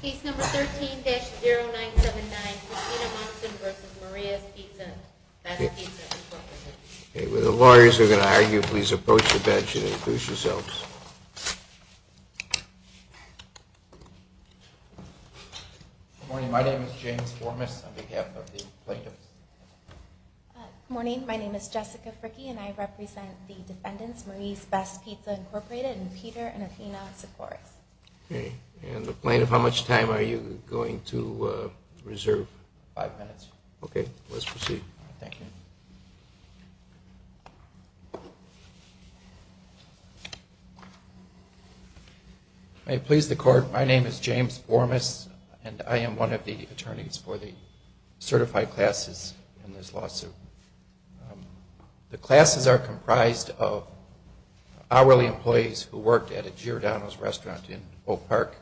Case number 13-0979, Christina Monson v. Marie's Best Pizza, Inc. If the lawyers are going to argue, please approach the bench and introduce yourselves. Good morning. My name is James Formas on behalf of the plaintiffs. Good morning. My name is Jessica Fricke, and I represent the defendants, Marie's Best Pizza, Inc., and Peter and Athena Sikoris. And the plaintiff, how much time are you going to reserve? Five minutes. Okay. Let's proceed. Thank you. May it please the Court, my name is James Formas, and I am one of the attorneys for the certified classes in this lawsuit. The classes are comprised of hourly employees who worked at a Giordano's restaurant in Oak Park.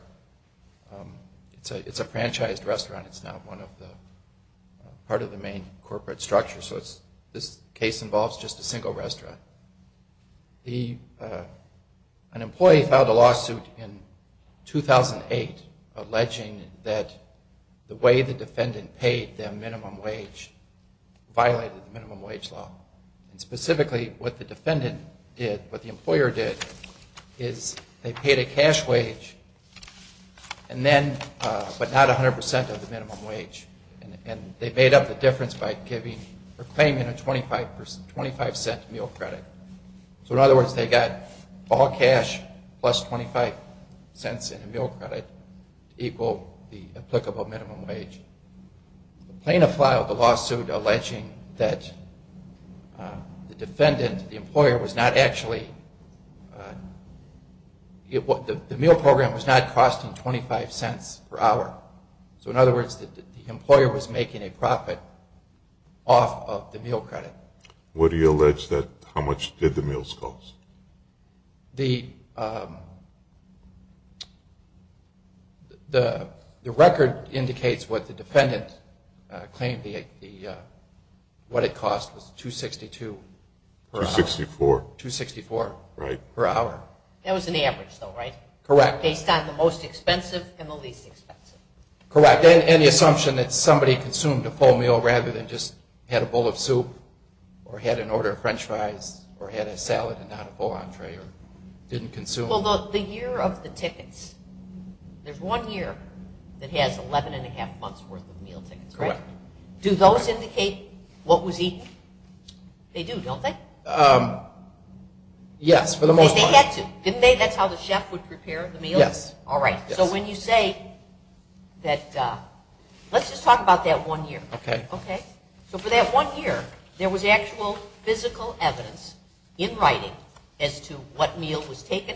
It's a franchised restaurant. It's not part of the main corporate structure, so this case involves just a single restaurant. An employee filed a lawsuit in 2008 alleging that the way the defendant paid them minimum wage violated minimum wage law. Specifically, what the defendant did, what the employer did, is they paid a cash wage, but not 100% of the minimum wage. And they made up the difference by claiming a 25 cent meal credit. So in other words, they got all cash plus 25 cents in a meal credit to equal the applicable minimum wage. The plaintiff filed a lawsuit alleging that the defendant, the employer, was not actually, the meal program was not costing 25 cents per hour. So in other words, the employer was making a profit off of the meal credit. What do you allege that, how much did the meals cost? The record indicates what the defendant claimed the, what it cost was 262 per hour. 264. 264 per hour. That was in the average though, right? Correct. Based on the most expensive and the least expensive. Correct, and the assumption that somebody consumed a full meal rather than just had a bowl of soup, or had an order of french fries, or had a salad and not a full entree, or didn't consume. Well, the year of the tickets, there's one year that has 11 and a half months worth of meal tickets, correct? Correct. Do those indicate what was eaten? Yes, for the most part. They had to, didn't they? That's how the chef would prepare the meal? Yes. All right, so when you say that, let's just talk about that one year. Okay. So for that one year, there was actual physical evidence in writing as to what meal was taken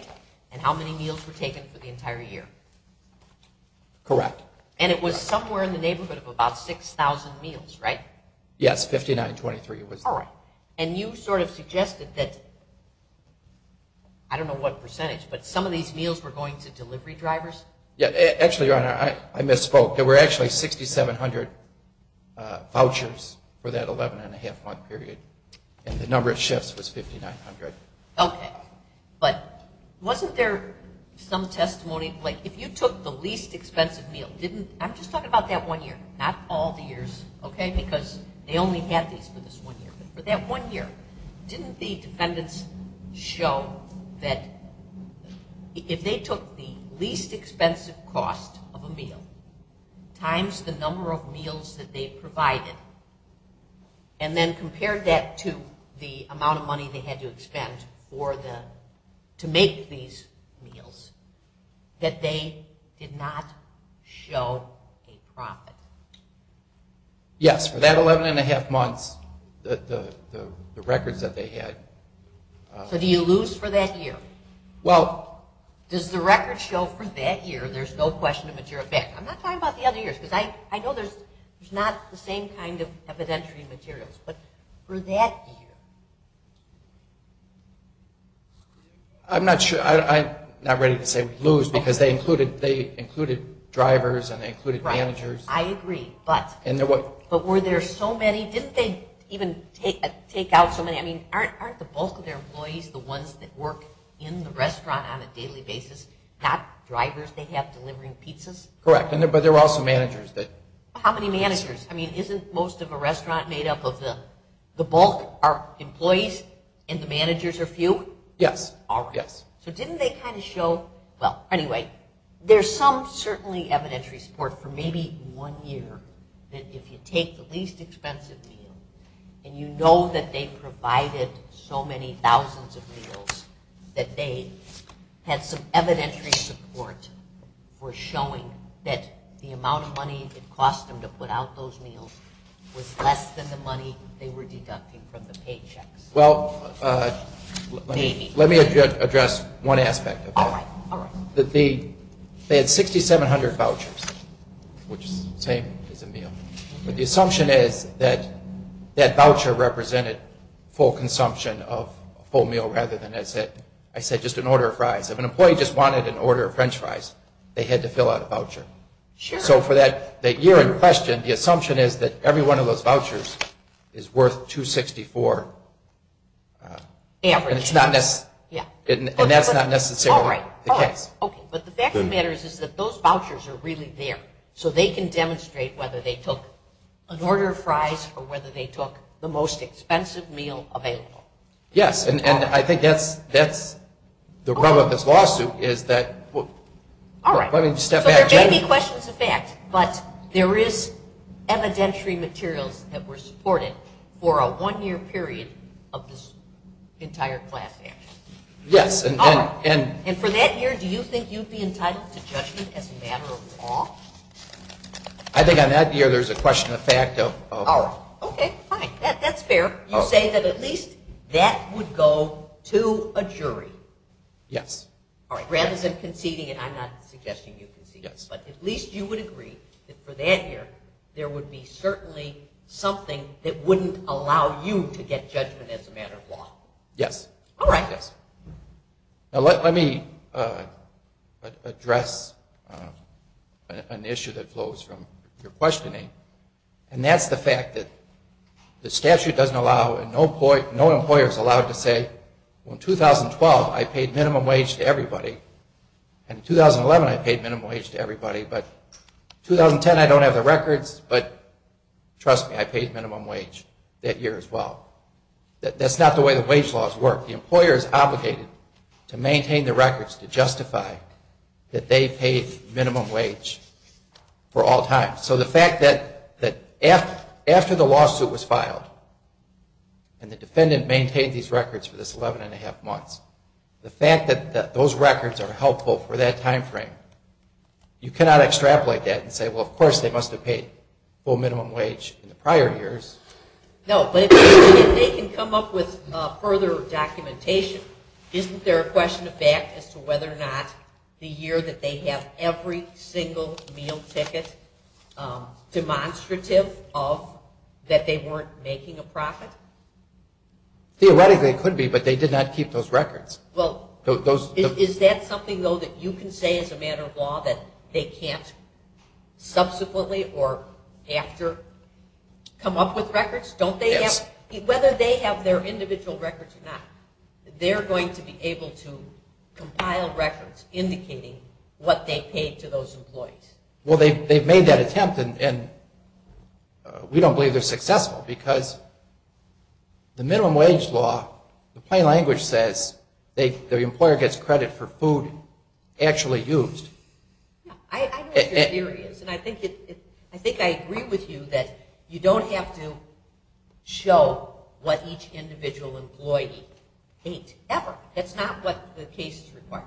and how many meals were taken for the entire year. Correct. And it was somewhere in the neighborhood of about 6,000 meals, right? Yes, 5923 it was. All right, and you sort of suggested that, I don't know what percentage, but some of these meals were going to delivery drivers? Actually, Your Honor, I misspoke. There were actually 6,700 vouchers for that 11 and a half month period, and the number of chefs was 5,900. Okay, but wasn't there some testimony, like if you took the least expensive meal, didn't, I'm just talking about that one year, not all the years, okay, because they only had these for this one year, but for that one year, didn't the defendants show that if they took the least expensive cost of a meal times the number of meals that they provided and then compared that to the amount of money they had to expend to make these meals, that they did not show a profit? Yes, for that 11 and a half months, the records that they had... So do you lose for that year? Well... Does the record show for that year there's no question of a jerk back? I'm not talking about the other years, because I know there's not the same kind of evidentiary materials, but for that year... I'm not sure, I'm not ready to say we lose, because they included drivers and they included managers. Right, I agree, but were there so many? Didn't they even take out so many? I mean, aren't the bulk of their employees the ones that work in the restaurant on a daily basis, not drivers they have delivering pizzas? Correct, but there were also managers that... How many managers? I mean, isn't most of a restaurant made up of the bulk, our employees, and the managers are few? Yes, yes. So didn't they kind of show... Well, anyway, there's some certainly evidentiary support for maybe one year, that if you take the least expensive meal, and you know that they provided so many thousands of meals, that they had some evidentiary support for showing that the amount of money it cost them to put out those meals was less than the money they were deducting from the paychecks. Well, let me address one aspect of that. All right, all right. They had 6,700 vouchers, which is the same as a meal, but the assumption is that that voucher represented full consumption of a full meal, rather than, as I said, just an order of fries. If an employee just wanted an order of French fries, they had to fill out a voucher. Sure. So for that year in question, the assumption is that every one of those vouchers is worth $264. Average. And that's not necessarily the case. All right, all right. But the fact of the matter is that those vouchers are really there, so they can demonstrate whether they took an order of fries, or whether they took the most expensive meal available. Yes, and I think that's the rub of this lawsuit, is that... All right, so there may be questions of fact, but there is evidentiary materials that were supported for a one-year period of this entire class action. Yes, and... I think on that year, there's a question of fact of... All right. Okay, fine. That's fair. You say that at least that would go to a jury. Yes. All right, rather than conceding, and I'm not suggesting you concede, but at least you would agree that for that year, there would be certainly something that wouldn't allow you to get judgment as a matter of law. Yes. All right. Yes. Now, let me address an issue that flows from your questioning, and that's the fact that the statute doesn't allow, and no employer is allowed to say, well, in 2012, I paid minimum wage to everybody, and in 2011, I paid minimum wage to everybody, but in 2010, I don't have the records, but trust me, I paid minimum wage that year as well. That's not the way the wage laws work. The employer is obligated to maintain the records to justify that they paid minimum wage for all time. So the fact that after the lawsuit was filed and the defendant maintained these records for this 11 1⁄2 months, the fact that those records are helpful for that time frame, you cannot extrapolate that and say, well, of course, they must have paid full minimum wage in the prior years. No, but if they can come up with further documentation, isn't there a question of fact as to whether or not the year that they have every single meal ticket demonstrative of that they weren't making a profit? Theoretically, it could be, but they did not keep those records. Well, is that something, though, that you can say as a matter of law that they can't subsequently or after come up with records? Yes. Whether they have their individual records or not, they're going to be able to compile records indicating what they paid to those employees. Well, they've made that attempt, and we don't believe they're successful because the minimum wage law, the plain language says the employer gets credit for food actually used. I know what your theory is, and I think I agree with you that you don't have to show what each individual employee ate ever. That's not what the case requires.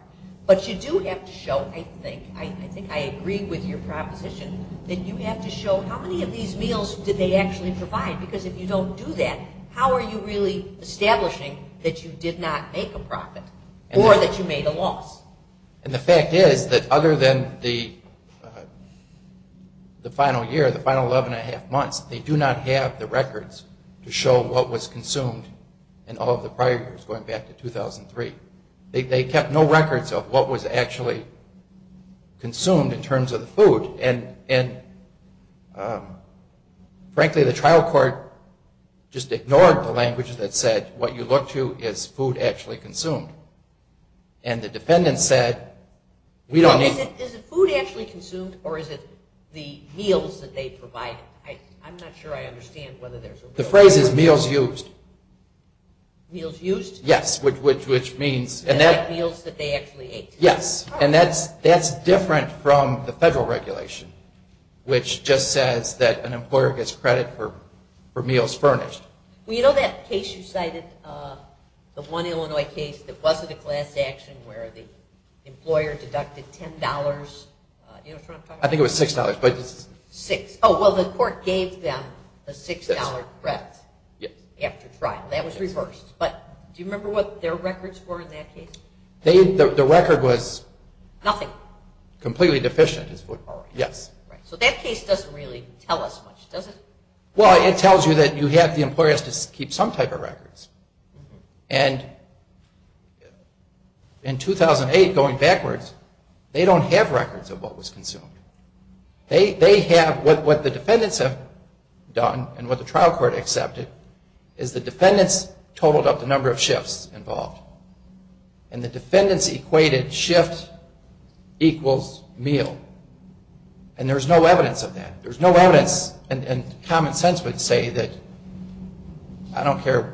But you do have to show, I think, I think I agree with your proposition, that you have to show how many of these meals did they actually provide because if you don't do that, how are you really establishing that you did not make a profit or that you made a loss? And the fact is that other than the final year, the final 11 1⁄2 months, they do not have the records to show what was consumed in all of the prior years, going back to 2003. They kept no records of what was actually consumed in terms of the food, and frankly, the trial court just ignored the language that said what you look to is food actually consumed. And the defendant said, we don't... Is it food actually consumed, or is it the meals that they provided? I'm not sure I understand whether there's a... The phrase is meals used. Meals used? Yes, which means... Like meals that they actually ate. Yes, and that's different from the federal regulation, which just says that an employer gets credit for meals furnished. Well, you know that case you cited, the one Illinois case that wasn't a class action where the employer deducted $10? Do you know what I'm talking about? I think it was $6, but... Six. Oh, well, the court gave them a $6 credit after trial. That was reversed. But do you remember what their records were in that case? The record was... Nothing. Completely deficient is what... All right. Yes. So that case doesn't really tell us much, does it? Well, it tells you that you have the employers to keep some type of records. And in 2008, going backwards, they don't have records of what was consumed. They have... What the defendants have done, and what the trial court accepted, is the defendants totaled up the number of shifts involved. And the defendants equated shift equals meal. And there's no evidence of that. There's no evidence, and common sense would say that... I don't care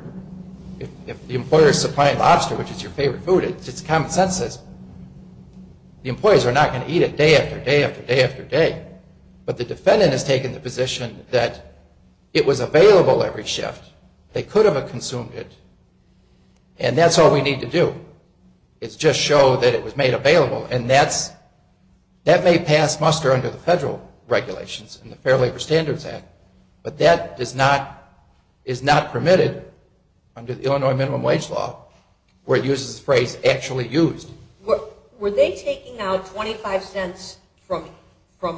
if the employer is supplying lobster, which is your favorite food, it's common sense that the employees are not going to eat it day after day after day after day. But the defendant has taken the position that it was available every shift. They could have consumed it, and that's all we need to do is just show that it was made available. And that may pass muster under the federal regulations in the Fair Labor Standards Act, but that is not permitted under the Illinois Minimum Wage Law, where it uses the phrase actually used. Were they taking out 25 cents from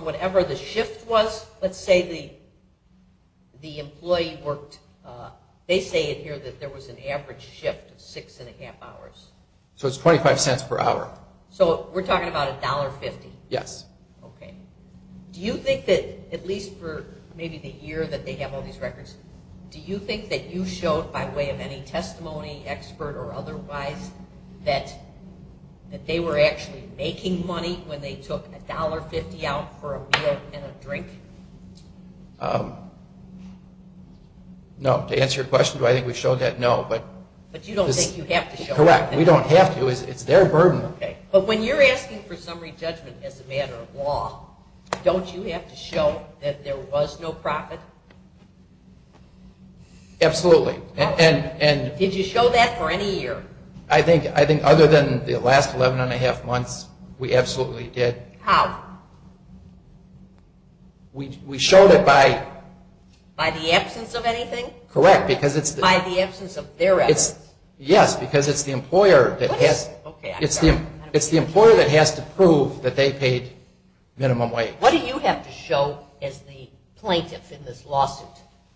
whatever the shift was? Let's say the employee worked... They say in here that there was an average shift of 6 1⁄2 hours. So it's 25 cents per hour. So we're talking about $1.50? Yes. Okay. Do you think that, at least for maybe the year that they have all these records, do you think that you showed by way of any testimony, expert or otherwise, that they were actually making money when they took $1.50 out for a meal and a drink? No. To answer your question, do I think we showed that? No. But you don't think you have to show that? Correct. We don't have to. It's their burden. Okay. But when you're asking for summary judgment as a matter of law, don't you have to show that there was no profit? Absolutely. Did you show that for any year? I think other than the last 11 1⁄2 months, we absolutely did. How? We showed it by... By the absence of anything? Correct. By the absence of their evidence? Yes, because it's the employer that has to prove that they paid minimum wage. What do you have to show as the plaintiff in this lawsuit?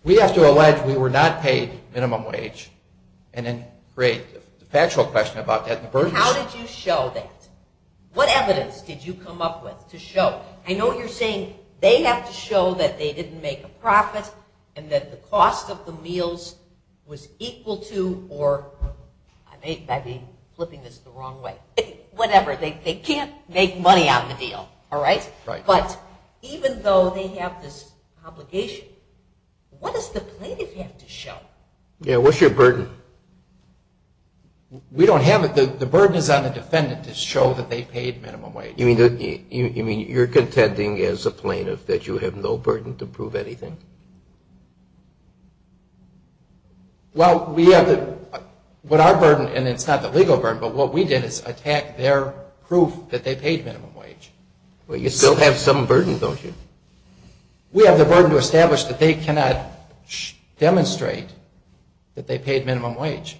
We have to allege we were not paid minimum wage and then create the factual question about that and the burden. How did you show that? What evidence did you come up with to show? I know you're saying they have to show that they didn't make a profit and that the cost of the meals was equal to or... I may be flipping this the wrong way. Whatever. They can't make money on the deal, all right? Right. But even though they have this obligation, what does the plaintiff have to show? Yeah, what's your burden? We don't have it. The burden is on the defendant to show that they paid minimum wage. You mean you're contending as a plaintiff that you have no burden to prove anything? Well, we have the... What our burden, and it's not the legal burden, but what we did is attack their proof that they paid minimum wage. Well, you still have some burden, don't you? We have the burden to establish that they cannot demonstrate that they paid minimum wage.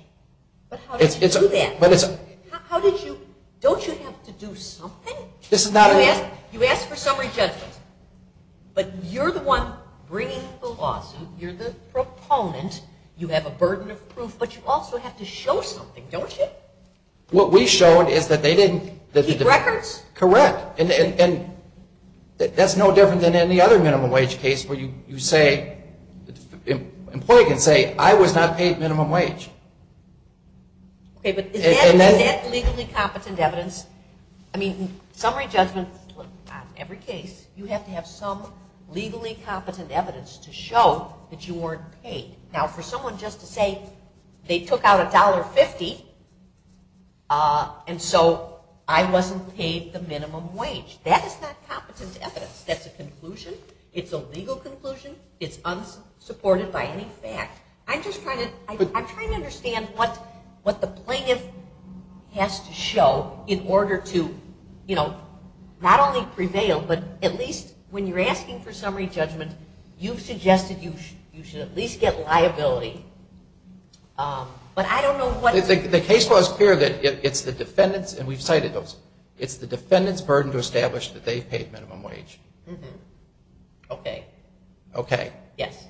But how did you do that? Don't you have to do something? You ask for summary judgment, but you're the one bringing the lawsuit. You're the proponent. You have a burden of proof, but you also have to show something, don't you? What we showed is that they didn't... Keep records? Correct. And that's no different than any other minimum wage case where you say, the employee can say, I was not paid minimum wage. Okay, but is that legally competent evidence? I mean, summary judgment on every case, you have to have some legally competent evidence to show that you weren't paid. Now, for someone just to say they took out $1.50, and so I wasn't paid the minimum wage, that is not competent evidence. That's a conclusion. It's a legal conclusion. It's unsupported by any fact. I'm trying to understand what the plaintiff has to show in order to not only prevail, but at least when you're asking for summary judgment, you've suggested you should at least get liability. But I don't know what... The case was clear that it's the defendant's, and we've cited those, it's the defendant's burden to establish that they've paid minimum wage. Okay. Okay. Yes.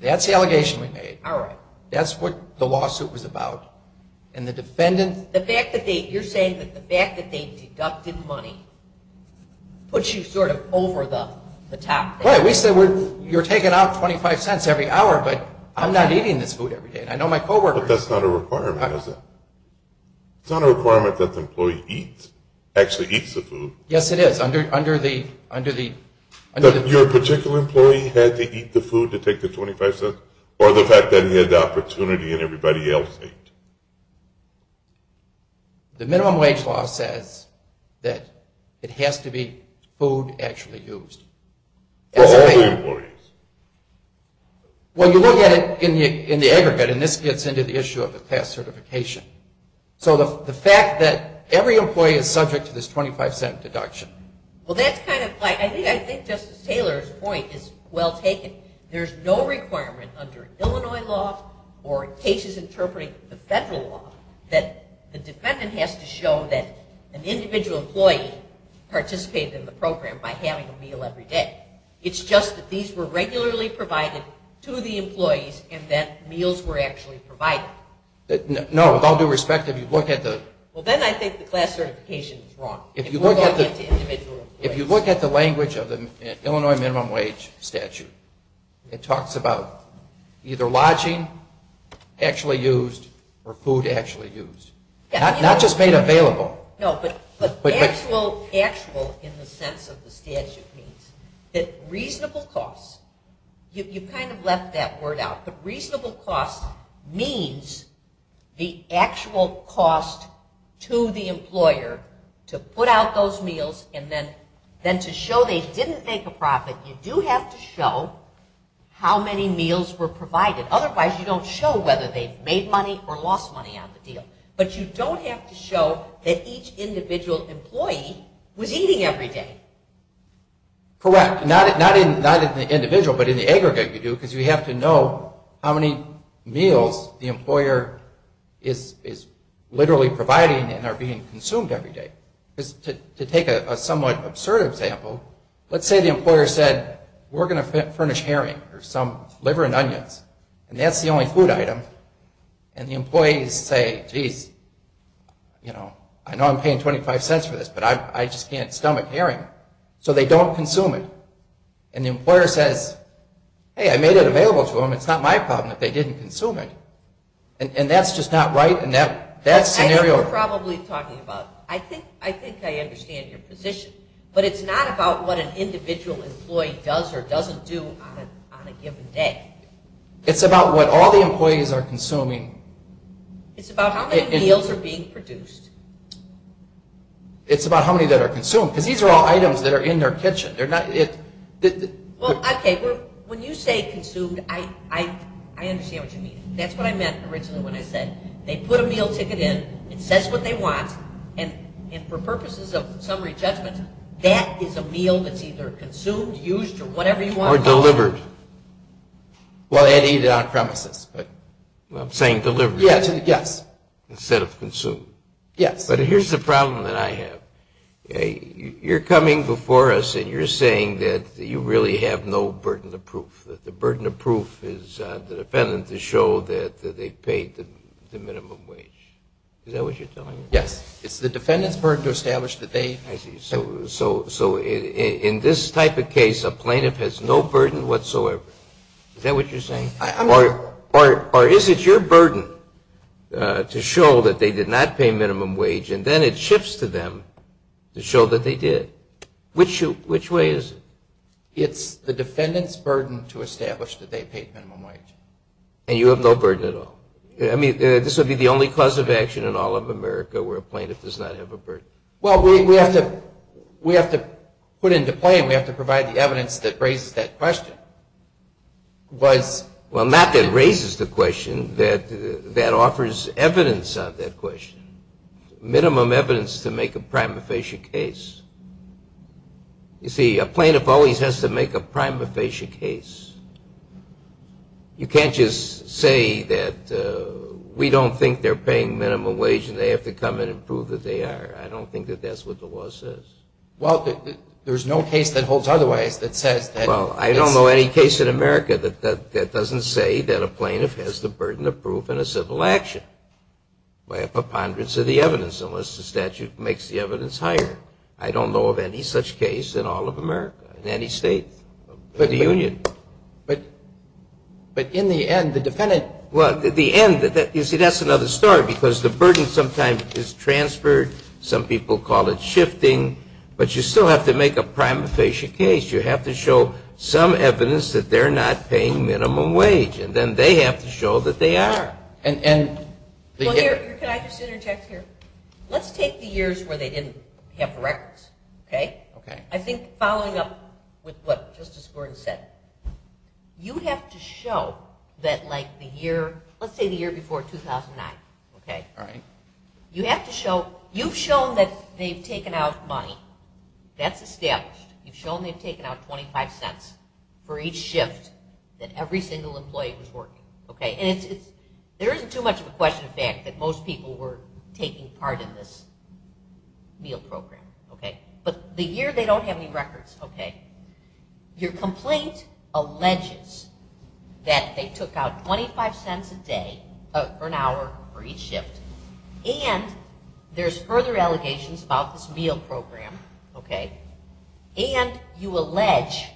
That's the allegation we made. All right. That's what the lawsuit was about. And the defendant... The fact that they... You're saying that the fact that they deducted money puts you sort of over the top. Right. We said you're taking out $0.25 every hour, but I'm not eating this food every day. I know my coworkers... But that's not a requirement, is it? It's not a requirement that the employee eats, actually eats the food. Yes, it is. Under the... Your particular employee had to eat the food to take the $0.25, or the fact that he had the opportunity and everybody else ate? The minimum wage law says that it has to be food actually used. For all the employees. Well, you look at it in the aggregate, and this gets into the issue of the class certification. So the fact that every employee is subject to this $0.25 deduction... Well, that's kind of like... I think Justice Taylor's point is well taken. There's no requirement under Illinois law or cases interpreting the federal law that the defendant has to show that an individual employee participated in the program by having a meal every day. It's just that these were regularly provided to the employees and that meals were actually provided. No, with all due respect, if you look at the... Well, then I think the class certification is wrong. If you look at the language of the Illinois minimum wage statute, it talks about either lodging actually used or food actually used. Not just made available. No, but actual in the sense of the statute means that reasonable cost... You kind of left that word out, but reasonable cost means the actual cost to the employer to put out those meals and then to show they didn't make a profit, you do have to show how many meals were provided. Otherwise, you don't show whether they made money or lost money on the deal. But you don't have to show that each individual employee was eating every day. Correct. Not in the individual, but in the aggregate you do because you have to know how many meals the employer is literally providing and are being consumed every day. To take a somewhat absurd example, let's say the employer said, we're going to furnish herring or some liver and onions, and that's the only food item. And the employees say, geez, I know I'm paying 25 cents for this, but I just can't stomach herring. So they don't consume it. And the employer says, hey, I made it available to them. It's not my problem that they didn't consume it. And that's just not right. I know what you're probably talking about. I think I understand your position. But it's not about what an individual employee does or doesn't do on a given day. It's about what all the employees are consuming. It's about how many meals are being produced. It's about how many that are consumed because these are all items that are in their kitchen. Well, okay, when you say consumed, I understand what you mean. That's what I meant originally when I said, they put a meal ticket in, it says what they want, and for purposes of summary judgment, that is a meal that's either consumed, used, or whatever you want. Or delivered. Well, and eaten on premises. I'm saying delivered. Yes. Instead of consumed. Yes. But here's the problem that I have. You're coming before us and you're saying that you really have no burden of proof, that the burden of proof is the defendant to show that they paid the minimum wage. Is that what you're telling me? Yes. It's the defendant's burden to establish that they. I see. So in this type of case, a plaintiff has no burden whatsoever. Is that what you're saying? Or is it your burden to show that they did not pay minimum wage and then it shifts to them to show that they did? Which way is it? It's the defendant's burden to establish that they paid minimum wage. And you have no burden at all? I mean, this would be the only cause of action in all of America where a plaintiff does not have a burden. Well, we have to put into play and we have to provide the evidence that raises that question. Well, not that raises the question. That offers evidence of that question. Minimum evidence to make a prima facie case. You see, a plaintiff always has to make a prima facie case. You can't just say that we don't think they're paying minimum wage and they have to come in and prove that they are. I don't think that that's what the law says. Well, there's no case that holds otherwise that says that it's... Well, I don't know any case in America that doesn't say that a plaintiff has the burden of proof in a civil action by a preponderance of the evidence unless the statute makes the evidence higher. I don't know of any such case in all of America, in any state of the union. But in the end, the defendant... Well, in the end, you see, that's another story because the burden sometimes is transferred. Some people call it shifting. But you still have to make a prima facie case. You have to show some evidence that they're not paying minimum wage and then they have to show that they are. And... Well, here, can I just interject here? Let's take the years where they didn't have records, okay? Okay. I think following up with what Justice Gordon said, you have to show that, like, the year... Let's say the year before 2009, okay? All right. You have to show... You've shown that they've taken out money. That's established. You've shown they've taken out 25 cents for each shift that every single employee was working, okay? And there isn't too much of a question of fact that most people were taking part in this meal program, okay? But the year they don't have any records, okay, your complaint alleges that they took out 25 cents a day for an hour for each shift. And there's further allegations about this meal program, okay? And you allege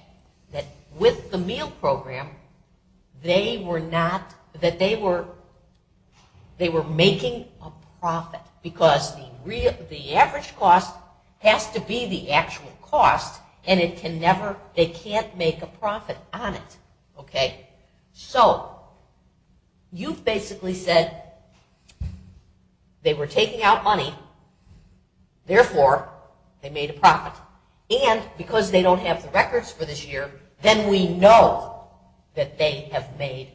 that with the meal program, they were making a profit because the average cost has to be the actual cost and they can't make a profit on it, okay? So you've basically said they were taking out money, therefore, they made a profit. And because they don't have the records for this year, then we know that they have made...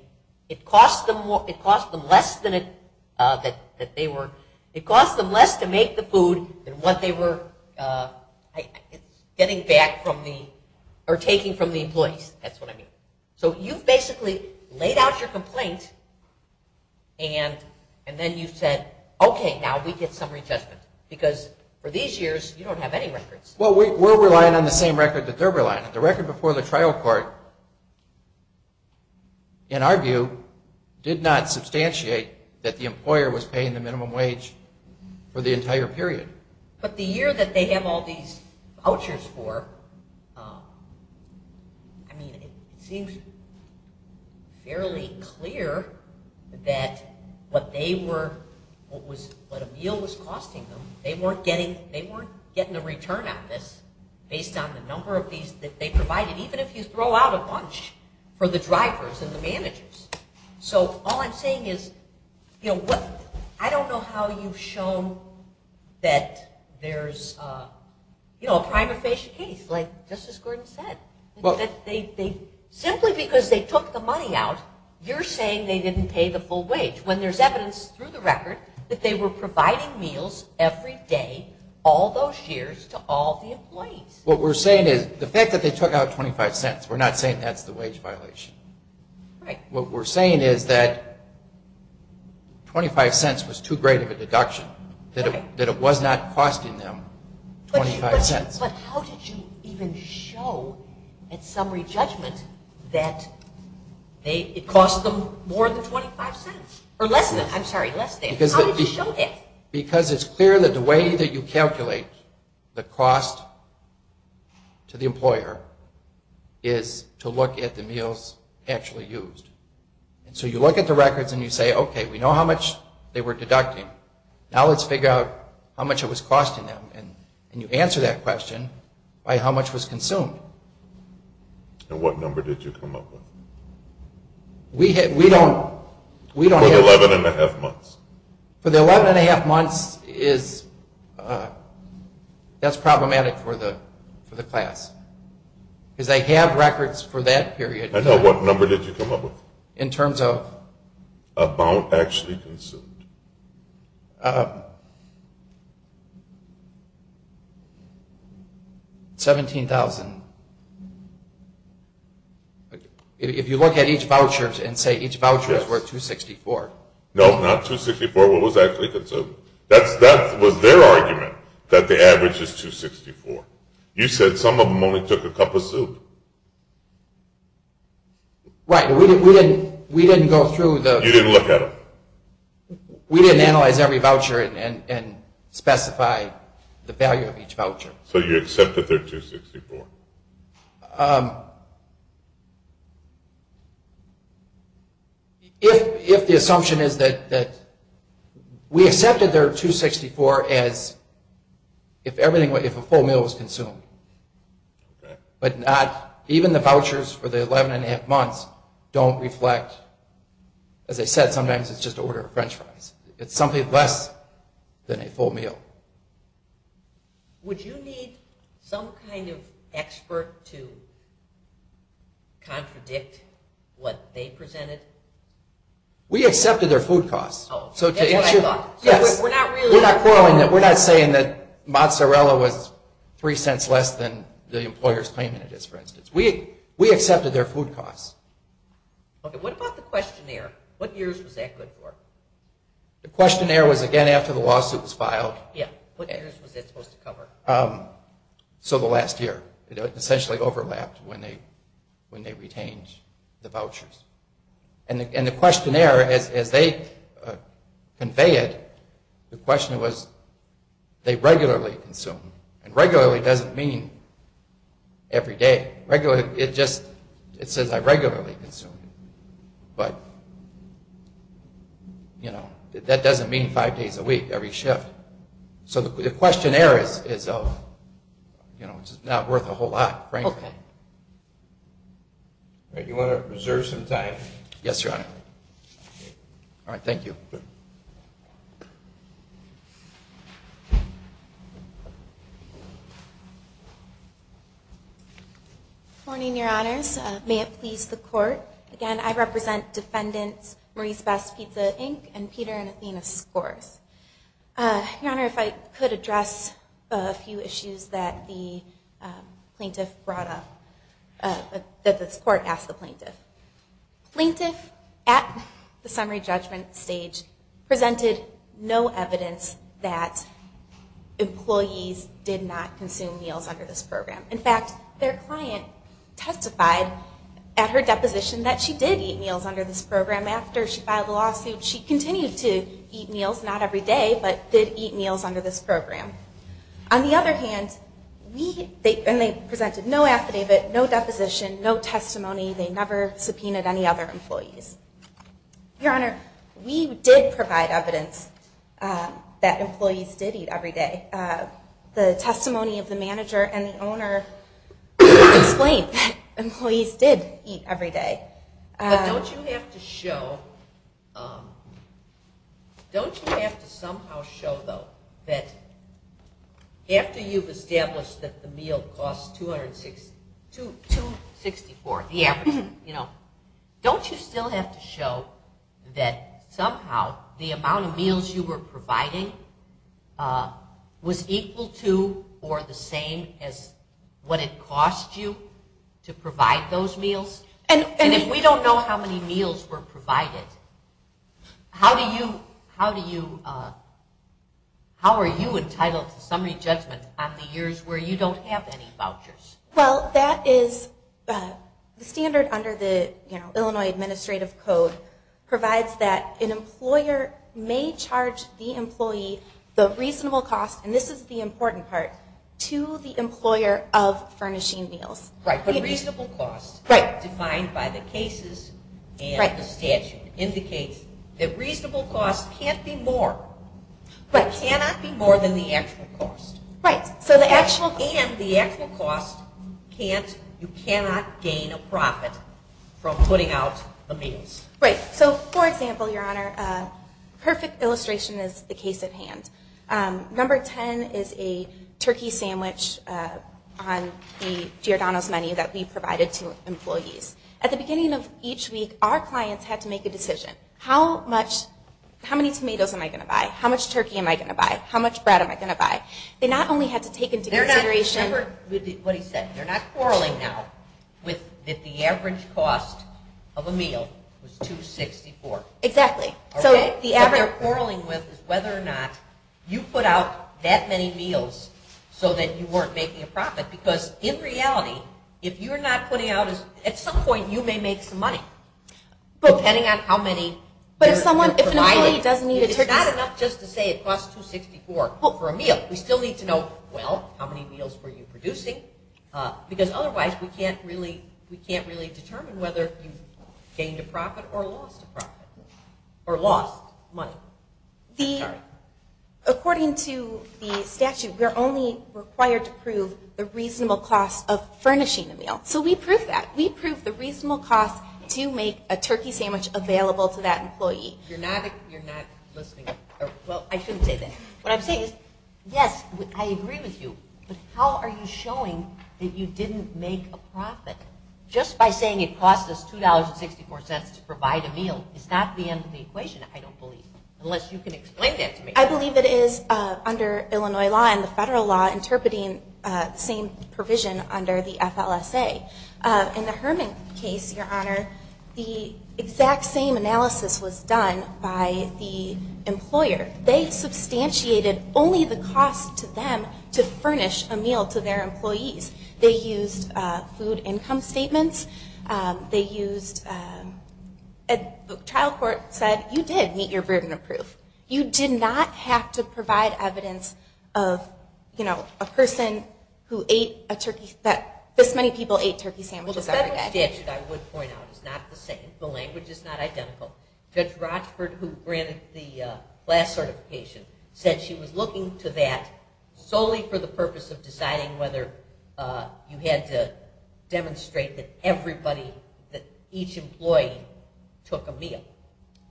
It cost them less to make the food than what they were getting back from the... or taking from the employees. That's what I mean. So you've basically laid out your complaint and then you've said, okay, now we get summary judgment because for these years, you don't have any records. Well, we're relying on the same record that they're relying on. The record before the trial court, in our view, did not substantiate that the employer was paying the minimum wage for the entire period. But the year that they have all these vouchers for, I mean, it seems fairly clear that what they were... what a meal was costing them, they weren't getting a return on this based on the number of these that they provided, even if you throw out a bunch for the drivers and the managers. So all I'm saying is, I don't know how you've shown that there's a prima facie case, like Justice Gordon said. Simply because they took the money out, you're saying they didn't pay the full wage when there's evidence through the record that they were providing meals every day all those years to all the employees. What we're saying is, the fact that they took out 25 cents, we're not saying that's the wage violation. What we're saying is that 25 cents was too great of a deduction, that it was not costing them 25 cents. But how did you even show at summary judgment that it cost them more than 25 cents? Or less than, I'm sorry, less than. How did you show that? Because it's clear that the way that you calculate the cost to the employer is to look at the meals actually used. So you look at the records and you say, okay, we know how much they were deducting. Now let's figure out how much it was costing them. And you answer that question by how much was consumed. And what number did you come up with? We don't... For the 11 and a half months. For the 11 and a half months, that's problematic for the class. Because they have records for that period. I know. What number did you come up with? In terms of? About actually consumed. $17,000. If you look at each voucher and say each voucher is worth $264. No, not $264. What was actually consumed? That was their argument, that the average is $264. You said some of them only took a cup of soup. Right, we didn't go through the... You didn't look at them. We didn't analyze every voucher and specify the value of each voucher. So you accept that they're $264. If the assumption is that... We accepted they're $264 as if a full meal was consumed. But not... Even the vouchers for the 11 and a half months don't reflect... As I said, sometimes it's just an order of French fries. It's something less than a full meal. Would you need some kind of expert to contradict what they presented? We accepted their food costs. Oh, that's what I thought. We're not saying that mozzarella was three cents less than the employer's claim it is, for instance. We accepted their food costs. What about the questionnaire? What years was that good for? The questionnaire was, again, after the lawsuit was filed. What years was it supposed to cover? So the last year. It essentially overlapped when they retained the vouchers. And the questionnaire, as they conveyed it, the question was, they regularly consume. And regularly doesn't mean every day. It just says, I regularly consume. But that doesn't mean five days a week, every shift. So the questionnaire is not worth a whole lot, frankly. Do you want to reserve some time? Yes, Your Honor. All right, thank you. Good. Good morning, Your Honors. May it please the Court. Again, I represent Defendants Maurice Best, Pizza, Inc., and Peter and Athena Scores. Your Honor, if I could address a few issues that the plaintiff brought up, that this Court asked the plaintiff. Plaintiff, at the summary judgment stage, presented no evidence that employees did not consume meals under this program. In fact, their client testified at her deposition that she did eat meals under this program. After she filed the lawsuit, she continued to eat meals, not every day, but did eat meals under this program. On the other hand, they presented no affidavit, no deposition, no testimony. They never subpoenaed any other employees. Your Honor, we did provide evidence that employees did eat every day. The testimony of the manager and the owner explained that employees did eat every day. But don't you have to show, don't you have to somehow show, though, that after you've established that the meal costs $264, the average, don't you still have to show that somehow the amount of meals you were providing was equal to or the same as what it cost you to provide those meals? And if we don't know how many meals were provided, how do you, how are you entitled to summary judgment on the years where you don't have any vouchers? Well, that is, the standard under the Illinois Administrative Code provides that an employer may charge the employee the reasonable cost, and this is the important part, to the employer of furnishing meals. Right, but reasonable cost. Right. Defined by the cases and the statute indicates that reasonable cost can't be more. Right. It cannot be more than the actual cost. Right. And the actual cost can't, you cannot gain a profit from putting out the meals. Right. So, for example, Your Honor, perfect illustration is the case at hand. Number 10 is a turkey sandwich on the Giordano's menu that we provided to employees. At the beginning of each week, our clients had to make a decision. How much, how many tomatoes am I going to buy? How much turkey am I going to buy? How much bread am I going to buy? They not only had to take into consideration. Remember what he said. They're not quarreling now that the average cost of a meal was $264. Exactly. What they're quarreling with is whether or not you put out that many meals so that you weren't making a profit. Because in reality, if you're not putting out, at some point you may make some money. Depending on how many you're providing. But if an employee doesn't need a turkey sandwich. It's not enough just to say it costs $264 for a meal. We still need to know, well, how many meals were you producing? Because otherwise we can't really determine whether you gained a profit or lost a profit. Or lost money. According to the statute, we're only required to prove the reasonable cost of furnishing a meal. So we prove that. We prove the reasonable cost to make a turkey sandwich available to that employee. You're not listening. Well, I shouldn't say that. What I'm saying is, yes, I agree with you. But how are you showing that you didn't make a profit? Just by saying it cost us $2.64 to provide a meal. It's not the end of the equation, I don't believe. Unless you can explain that to me. I believe it is, under Illinois law and the federal law, interpreting the same provision under the FLSA. In the Herman case, Your Honor, the exact same analysis was done by the employer. They substantiated only the cost to them to furnish a meal to their employees. They used food income statements. They used... The trial court said, you did meet your burden of proof. You did not have to provide evidence of a person who ate a turkey... This many people ate turkey sandwiches every day. The federal statute, I would point out, is not the same. The language is not identical. Judge Rochford, who granted the last certification, said she was looking to that solely for the purpose of deciding whether you had to demonstrate that everybody, that each employee, took a meal.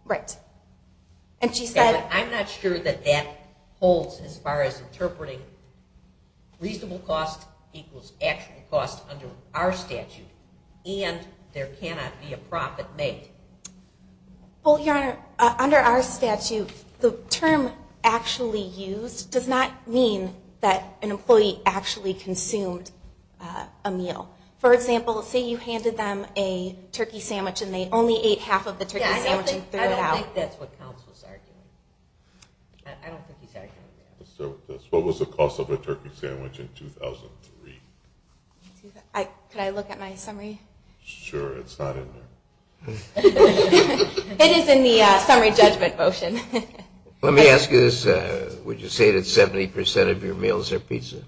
Right. And she said... I'm not sure that that holds as far as interpreting reasonable cost equals actual cost under our statute. And there cannot be a profit made. Well, Your Honor, under our statute, the term actually used does not mean that an employee actually consumed a meal. For example, say you handed them a turkey sandwich and they only ate half of the turkey sandwich and threw it out. I don't think that's what counsel is arguing. I don't think he's arguing that. What was the cost of a turkey sandwich in 2003? Could I look at my summary? Sure. It's not in there. It is in the summary judgment motion. Let me ask you this. Would you say that 70% of your meals are pizza?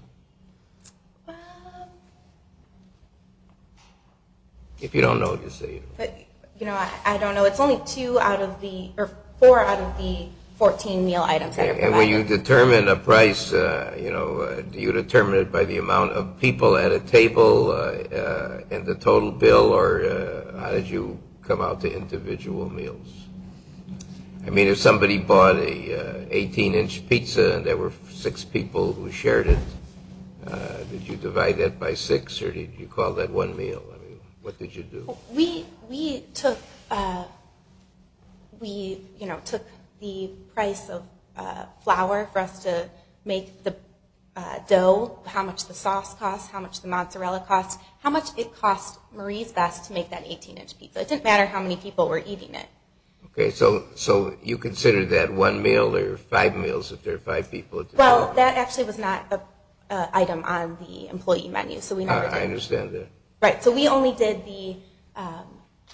If you don't know, just say it. I don't know. It's only four out of the 14 meal items that are provided. And when you determine a price, do you determine it by the amount of people at a table and the total bill? Or how did you come out to individual meals? I mean, if somebody bought an 18-inch pizza and there were six people who shared it, did you divide that by six or did you call that one meal? I mean, what did you do? We took the price of flour for us to make the dough, how much the sauce costs, how much the mozzarella costs, how much it cost Marie's best to make that 18-inch pizza. It didn't matter how many people were eating it. Okay. So you consider that one meal or five meals if there are five people at the table? Well, that actually was not an item on the employee menu. I understand that. Right. So we only did the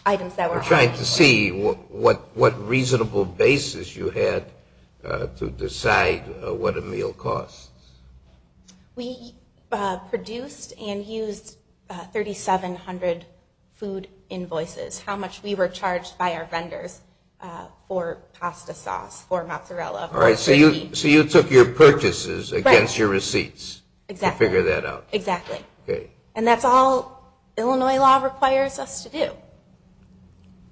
items that were on the table. We're trying to see what reasonable basis you had to decide what a meal costs. We produced and used 3,700 food invoices, how much we were charged by our vendors for pasta sauce or mozzarella. All right. So you took your purchases against your receipts to figure that out. Exactly. Okay. And that's all Illinois law requires us to do.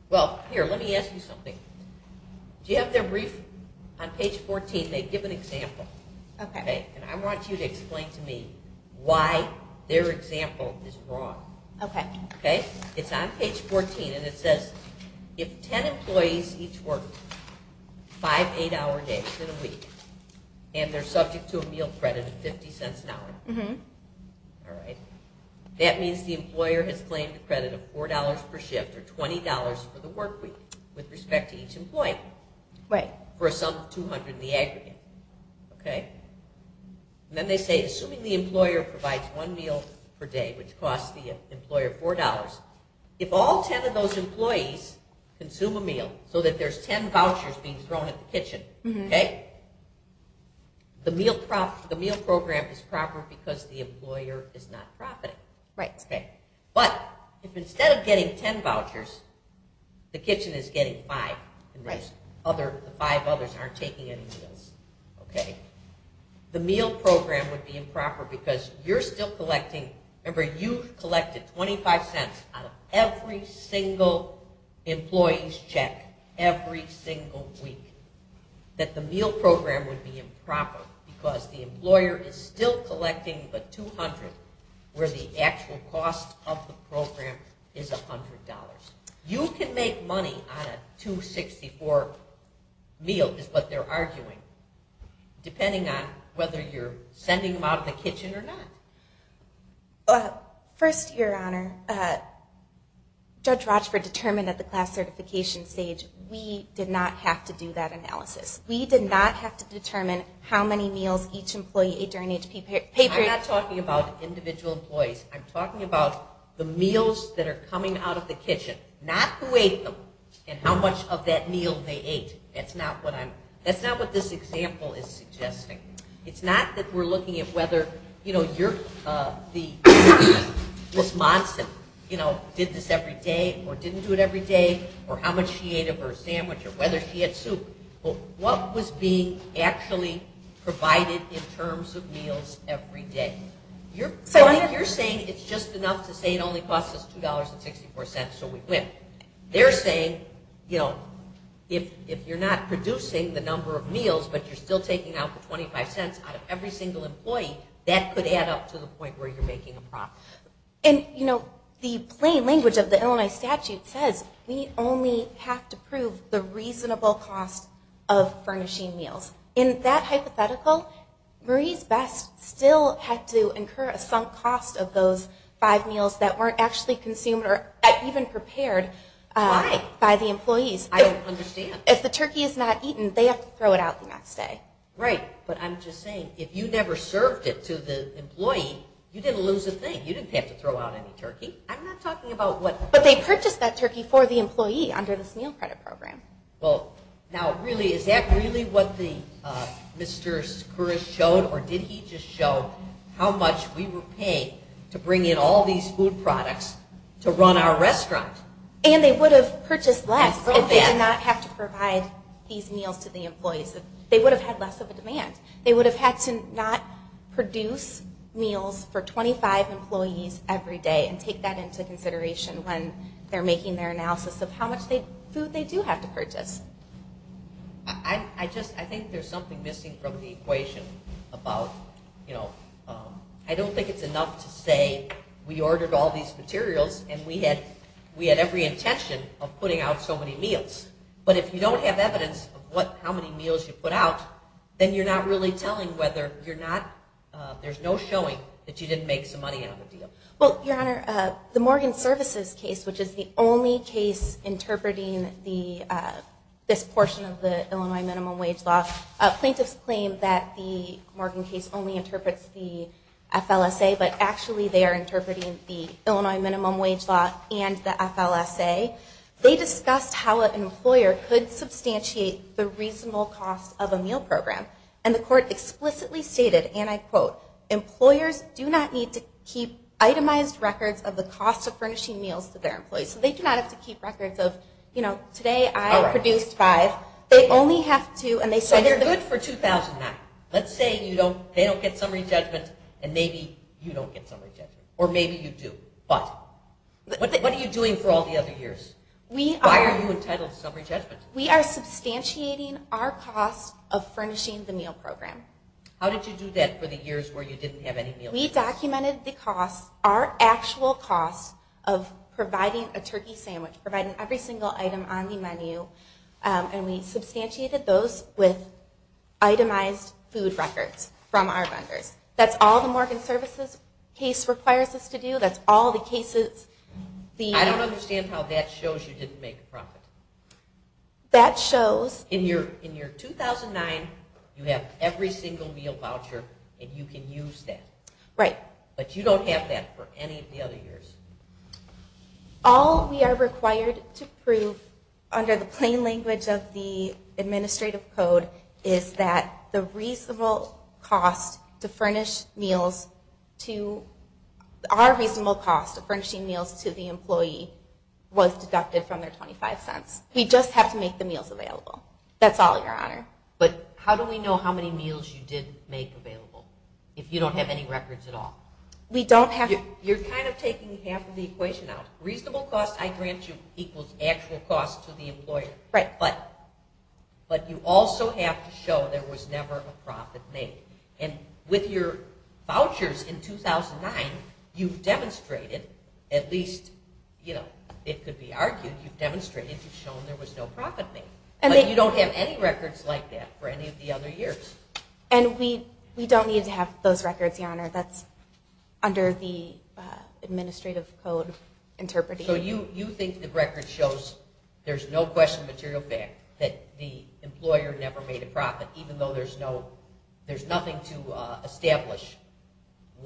Well, here, let me ask you something. Do you have their brief on page 14? They give an example. Okay. And I want you to explain to me why their example is wrong. Okay. Okay? It's on page 14, and it says if 10 employees each work five eight-hour days in a week and they're subject to a meal credit of $0.50 an hour, all right, that means the employer has claimed a credit of $4 per shift or $20 for the work week with respect to each employee. Right. For some 200 in the aggregate. Okay? And then they say assuming the employer provides one meal per day, which costs the employer $4, if all 10 of those employees consume a meal so that there's 10 vouchers being thrown at the kitchen, okay, the meal program is proper because the employer is not profiting. Right. Okay. But if instead of getting 10 vouchers, the kitchen is getting five, the five others aren't taking any meals, okay, the meal program would be improper because you're still collecting. Remember, you've collected $0.25 out of every single employee's check every single week, that the meal program would be improper because the employer is still collecting the 200 where the actual cost of the program is $100. You can make money on a $2.64 meal is what they're arguing, depending on whether you're sending them out of the kitchen or not. First, Your Honor, Judge Rochford determined at the class certification stage, we did not have to do that analysis. We did not have to determine how many meals each employee ate during HP pay period. I'm not talking about individual employees. I'm talking about the meals that are coming out of the kitchen, not who ate them and how much of that meal they ate. That's not what this example is suggesting. It's not that we're looking at whether, you know, Ms. Monson, you know, did this every day or didn't do it every day or how much she ate of her sandwich or whether she had soup. What was being actually provided in terms of meals every day? You're saying it's just enough to say it only costs us $2.64 so we quit. They're saying, you know, if you're not producing the number of meals but you're still taking out the $0.25 out of every single employee, that could add up to the point where you're making a profit. And, you know, the plain language of the Illinois statute says we only have to prove the reasonable cost of furnishing meals. In that hypothetical, Marie's Best still had to incur a sunk cost of those five meals that weren't actually consumed or even prepared by the employees. I don't understand. If the turkey is not eaten, they have to throw it out the next day. Right. But I'm just saying, if you never served it to the employee, you didn't lose a thing. You didn't have to throw out any turkey. I'm not talking about what... But they purchased that turkey for the employee under this meal credit program. Well, now, really, is that really what Mr. Skouris showed or did he just show how much we were paying to bring in all these food products to run our restaurant? And they would have purchased less if they did not have to provide these meals to the employees. They would have had less of a demand. They would have had to not produce meals for 25 employees every day and take that into consideration when they're making their analysis of how much food they do have to purchase. I think there's something missing from the equation about... I don't think it's enough to say we ordered all these materials and we had every intention of putting out so many meals. But if you don't have evidence of how many meals you put out, then you're not really telling whether you're not... There's no showing that you didn't make some money on the deal. Well, Your Honor, the Morgan Services case, which is the only case interpreting this portion of the Illinois minimum wage law, plaintiffs claim that the Morgan case only interprets the FLSA, but actually they are interpreting the Illinois minimum wage law and the FLSA. They discussed how an employer could substantiate the reasonable cost of a meal program. And the court explicitly stated, and I quote, employers do not need to keep itemized records of the cost of furnishing meals to their employees. So they do not have to keep records of, you know, today I produced five. They only have to... So they're good for 2009. Let's say they don't get summary judgment and maybe you don't get summary judgment. Or maybe you do. But what are you doing for all the other years? Why are you entitled to summary judgment? We are substantiating our cost of furnishing the meal program. How did you do that for the years where you didn't have any meals? We documented the cost, our actual cost, of providing a turkey sandwich, providing every single item on the menu, and we substantiated those with itemized food records from our vendors. That's all the Morgan Services case requires us to do. That's all the cases... I don't understand how that shows you didn't make a profit. That shows... In your 2009, you have every single meal voucher, and you can use that. Right. But you don't have that for any of the other years. All we are required to prove under the plain language of the administrative code is that the reasonable cost to furnish meals to... Our reasonable cost of furnishing meals to the employee was deducted from their 25 cents. We just have to make the meals available. That's all, Your Honor. But how do we know how many meals you did make available if you don't have any records at all? We don't have... You're kind of taking half of the equation out. Reasonable cost I grant you equals actual cost to the employer. Right. But you also have to show there was never a profit made. And with your vouchers in 2009, you've demonstrated, at least it could be argued, you've demonstrated you've shown there was no profit made. But you don't have any records like that for any of the other years. And we don't need to have those records, Your Honor. That's under the administrative code interpreting. So you think the record shows there's no question of material fact that the employer never made a profit, even though there's nothing to establish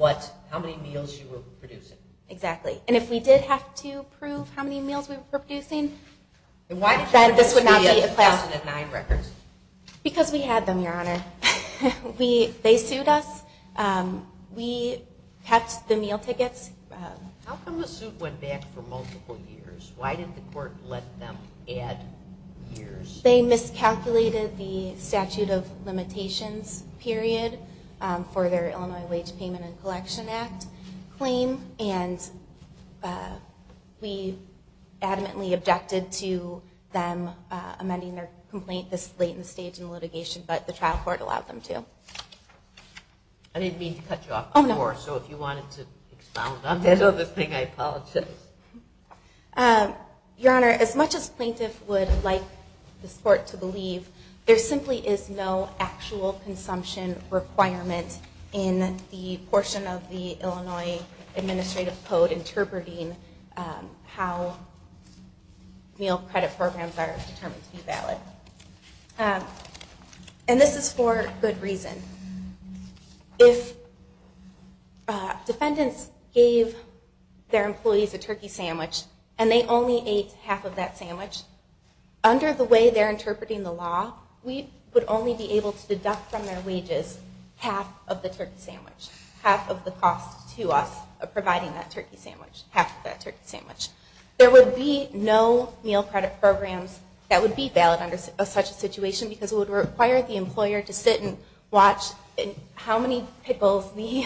how many meals you were producing. Exactly. And if we did have to prove how many meals we were producing, then this would not be a class... Why did you produce the 2009 records? Because we had them, Your Honor. They sued us. We kept the meal tickets. How come the suit went back for multiple years? Why didn't the court let them add years? They miscalculated the statute of limitations period for their Illinois Wage Payment and Collection Act claim, and we adamantly objected to them amending their complaint this late in the stage in litigation, but the trial court allowed them to. I didn't mean to cut you off before, so if you wanted to expound on that other thing, I apologize. Your Honor, as much as plaintiffs would like this court to believe, there simply is no actual consumption requirement in the portion of the Illinois Administrative Code interpreting how meal credit programs are determined to be valid. And this is for good reason. If defendants gave their employees a turkey sandwich and they only ate half of that sandwich, under the way they're interpreting the law, we would only be able to deduct from their wages half of the turkey sandwich, half of the cost to us of providing that turkey sandwich. There would be no meal credit programs that would be valid under such a situation because it would require the employer to sit and watch how many pickles the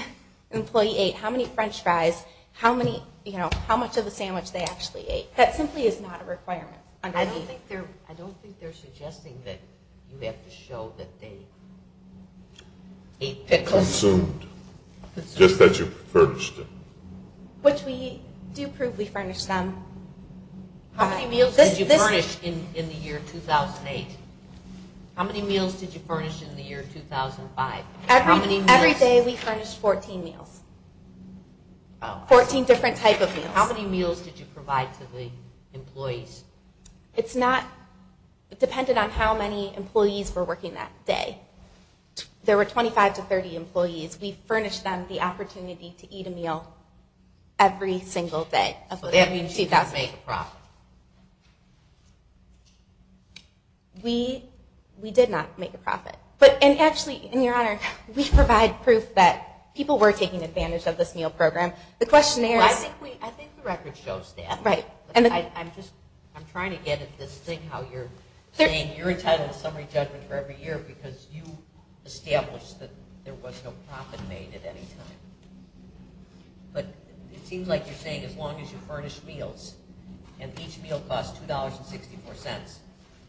employee ate, how many French fries, how much of the sandwich they actually ate. That simply is not a requirement. I don't think they're suggesting that you have to show that they ate pickles. Consumed. Just that you furnished them. Which we do prove we furnished them. How many meals did you furnish in the year 2008? How many meals did you furnish in the year 2005? Every day we furnished 14 meals. 14 different type of meals. How many meals did you provide to the employees? It depended on how many employees were working that day. There were 25 to 30 employees. We furnished them the opportunity to eat a meal every single day. That means you didn't make a profit. We did not make a profit. Actually, Your Honor, we provide proof that people were taking advantage of this meal program. I think the record shows that. I'm trying to get at this thing how you're saying you're entitled to summary judgment for every year because you established that there was no profit made at any time. But it seems like you're saying as long as you furnished meals, and each meal cost $2.64,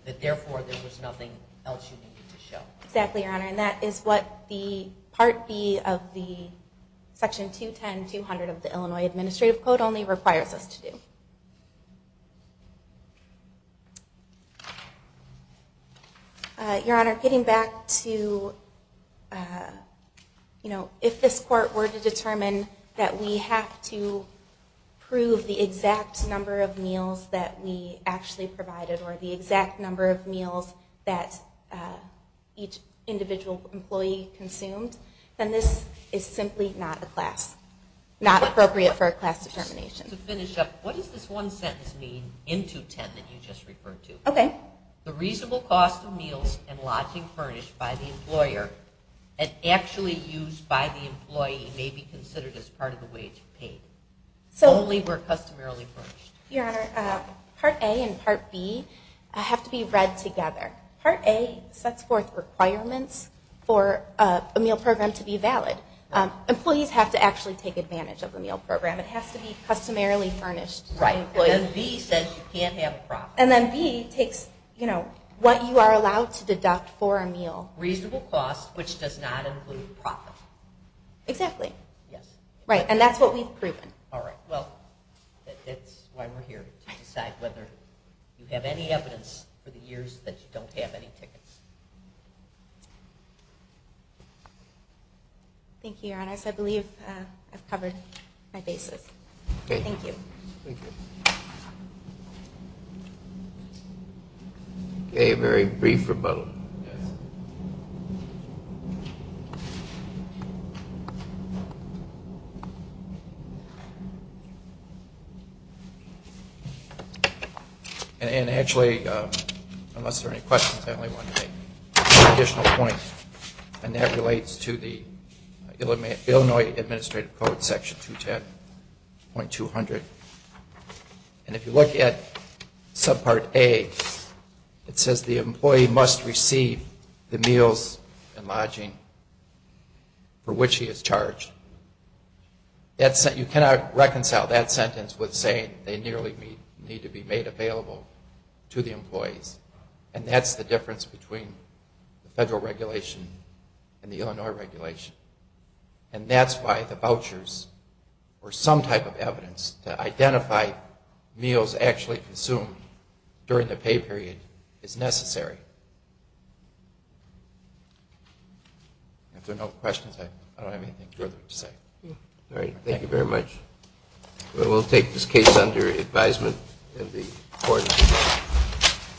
that therefore there was nothing else you needed to show. Exactly, Your Honor, and that is what the Part B of the Section 210-200 of the Illinois Administrative Code only requires us to do. Your Honor, getting back to if this court were to determine that we have to prove the exact number of meals that we actually provided or the exact number of meals that each individual employee consumed, then this is simply not a class, not appropriate for a class determination. To finish up, what does this one sentence mean in 210 that you just referred to? Okay. The reasonable cost of meals and lodging furnished by the employer and actually used by the employee may be considered as part of the wage paid. Only were customarily furnished. Your Honor, Part A and Part B have to be read together. Part A sets forth requirements for a meal program to be valid. Employees have to actually take advantage of the meal program. It has to be customarily furnished. Right. And then B says you can't have a profit. And then B takes what you are allowed to deduct for a meal. Reasonable cost, which does not include profit. Exactly. Yes. Right. And that's what we've proven. All right. Well, that's why we're here to decide whether you have any evidence for the years that you don't have any tickets. Thank you, Your Honor. I believe I've covered my bases. Thank you. Thank you. Okay, a very brief rebuttal. Yes. Thank you. And actually, unless there are any questions, I only want to make one additional point, and that relates to the Illinois Administrative Code, Section 210.200. And if you look at Subpart A, it says the employee must receive the meals and lodging for which he is charged. You cannot reconcile that sentence with saying they nearly need to be made available to the employees. And that's the difference between the federal regulation and the Illinois regulation. And that's why the vouchers were some type of evidence to identify meals actually consumed during the pay period as necessary. If there are no questions, I don't have anything further to say. All right. Thank you very much. We'll take this case under advisement in the Court of Appeals.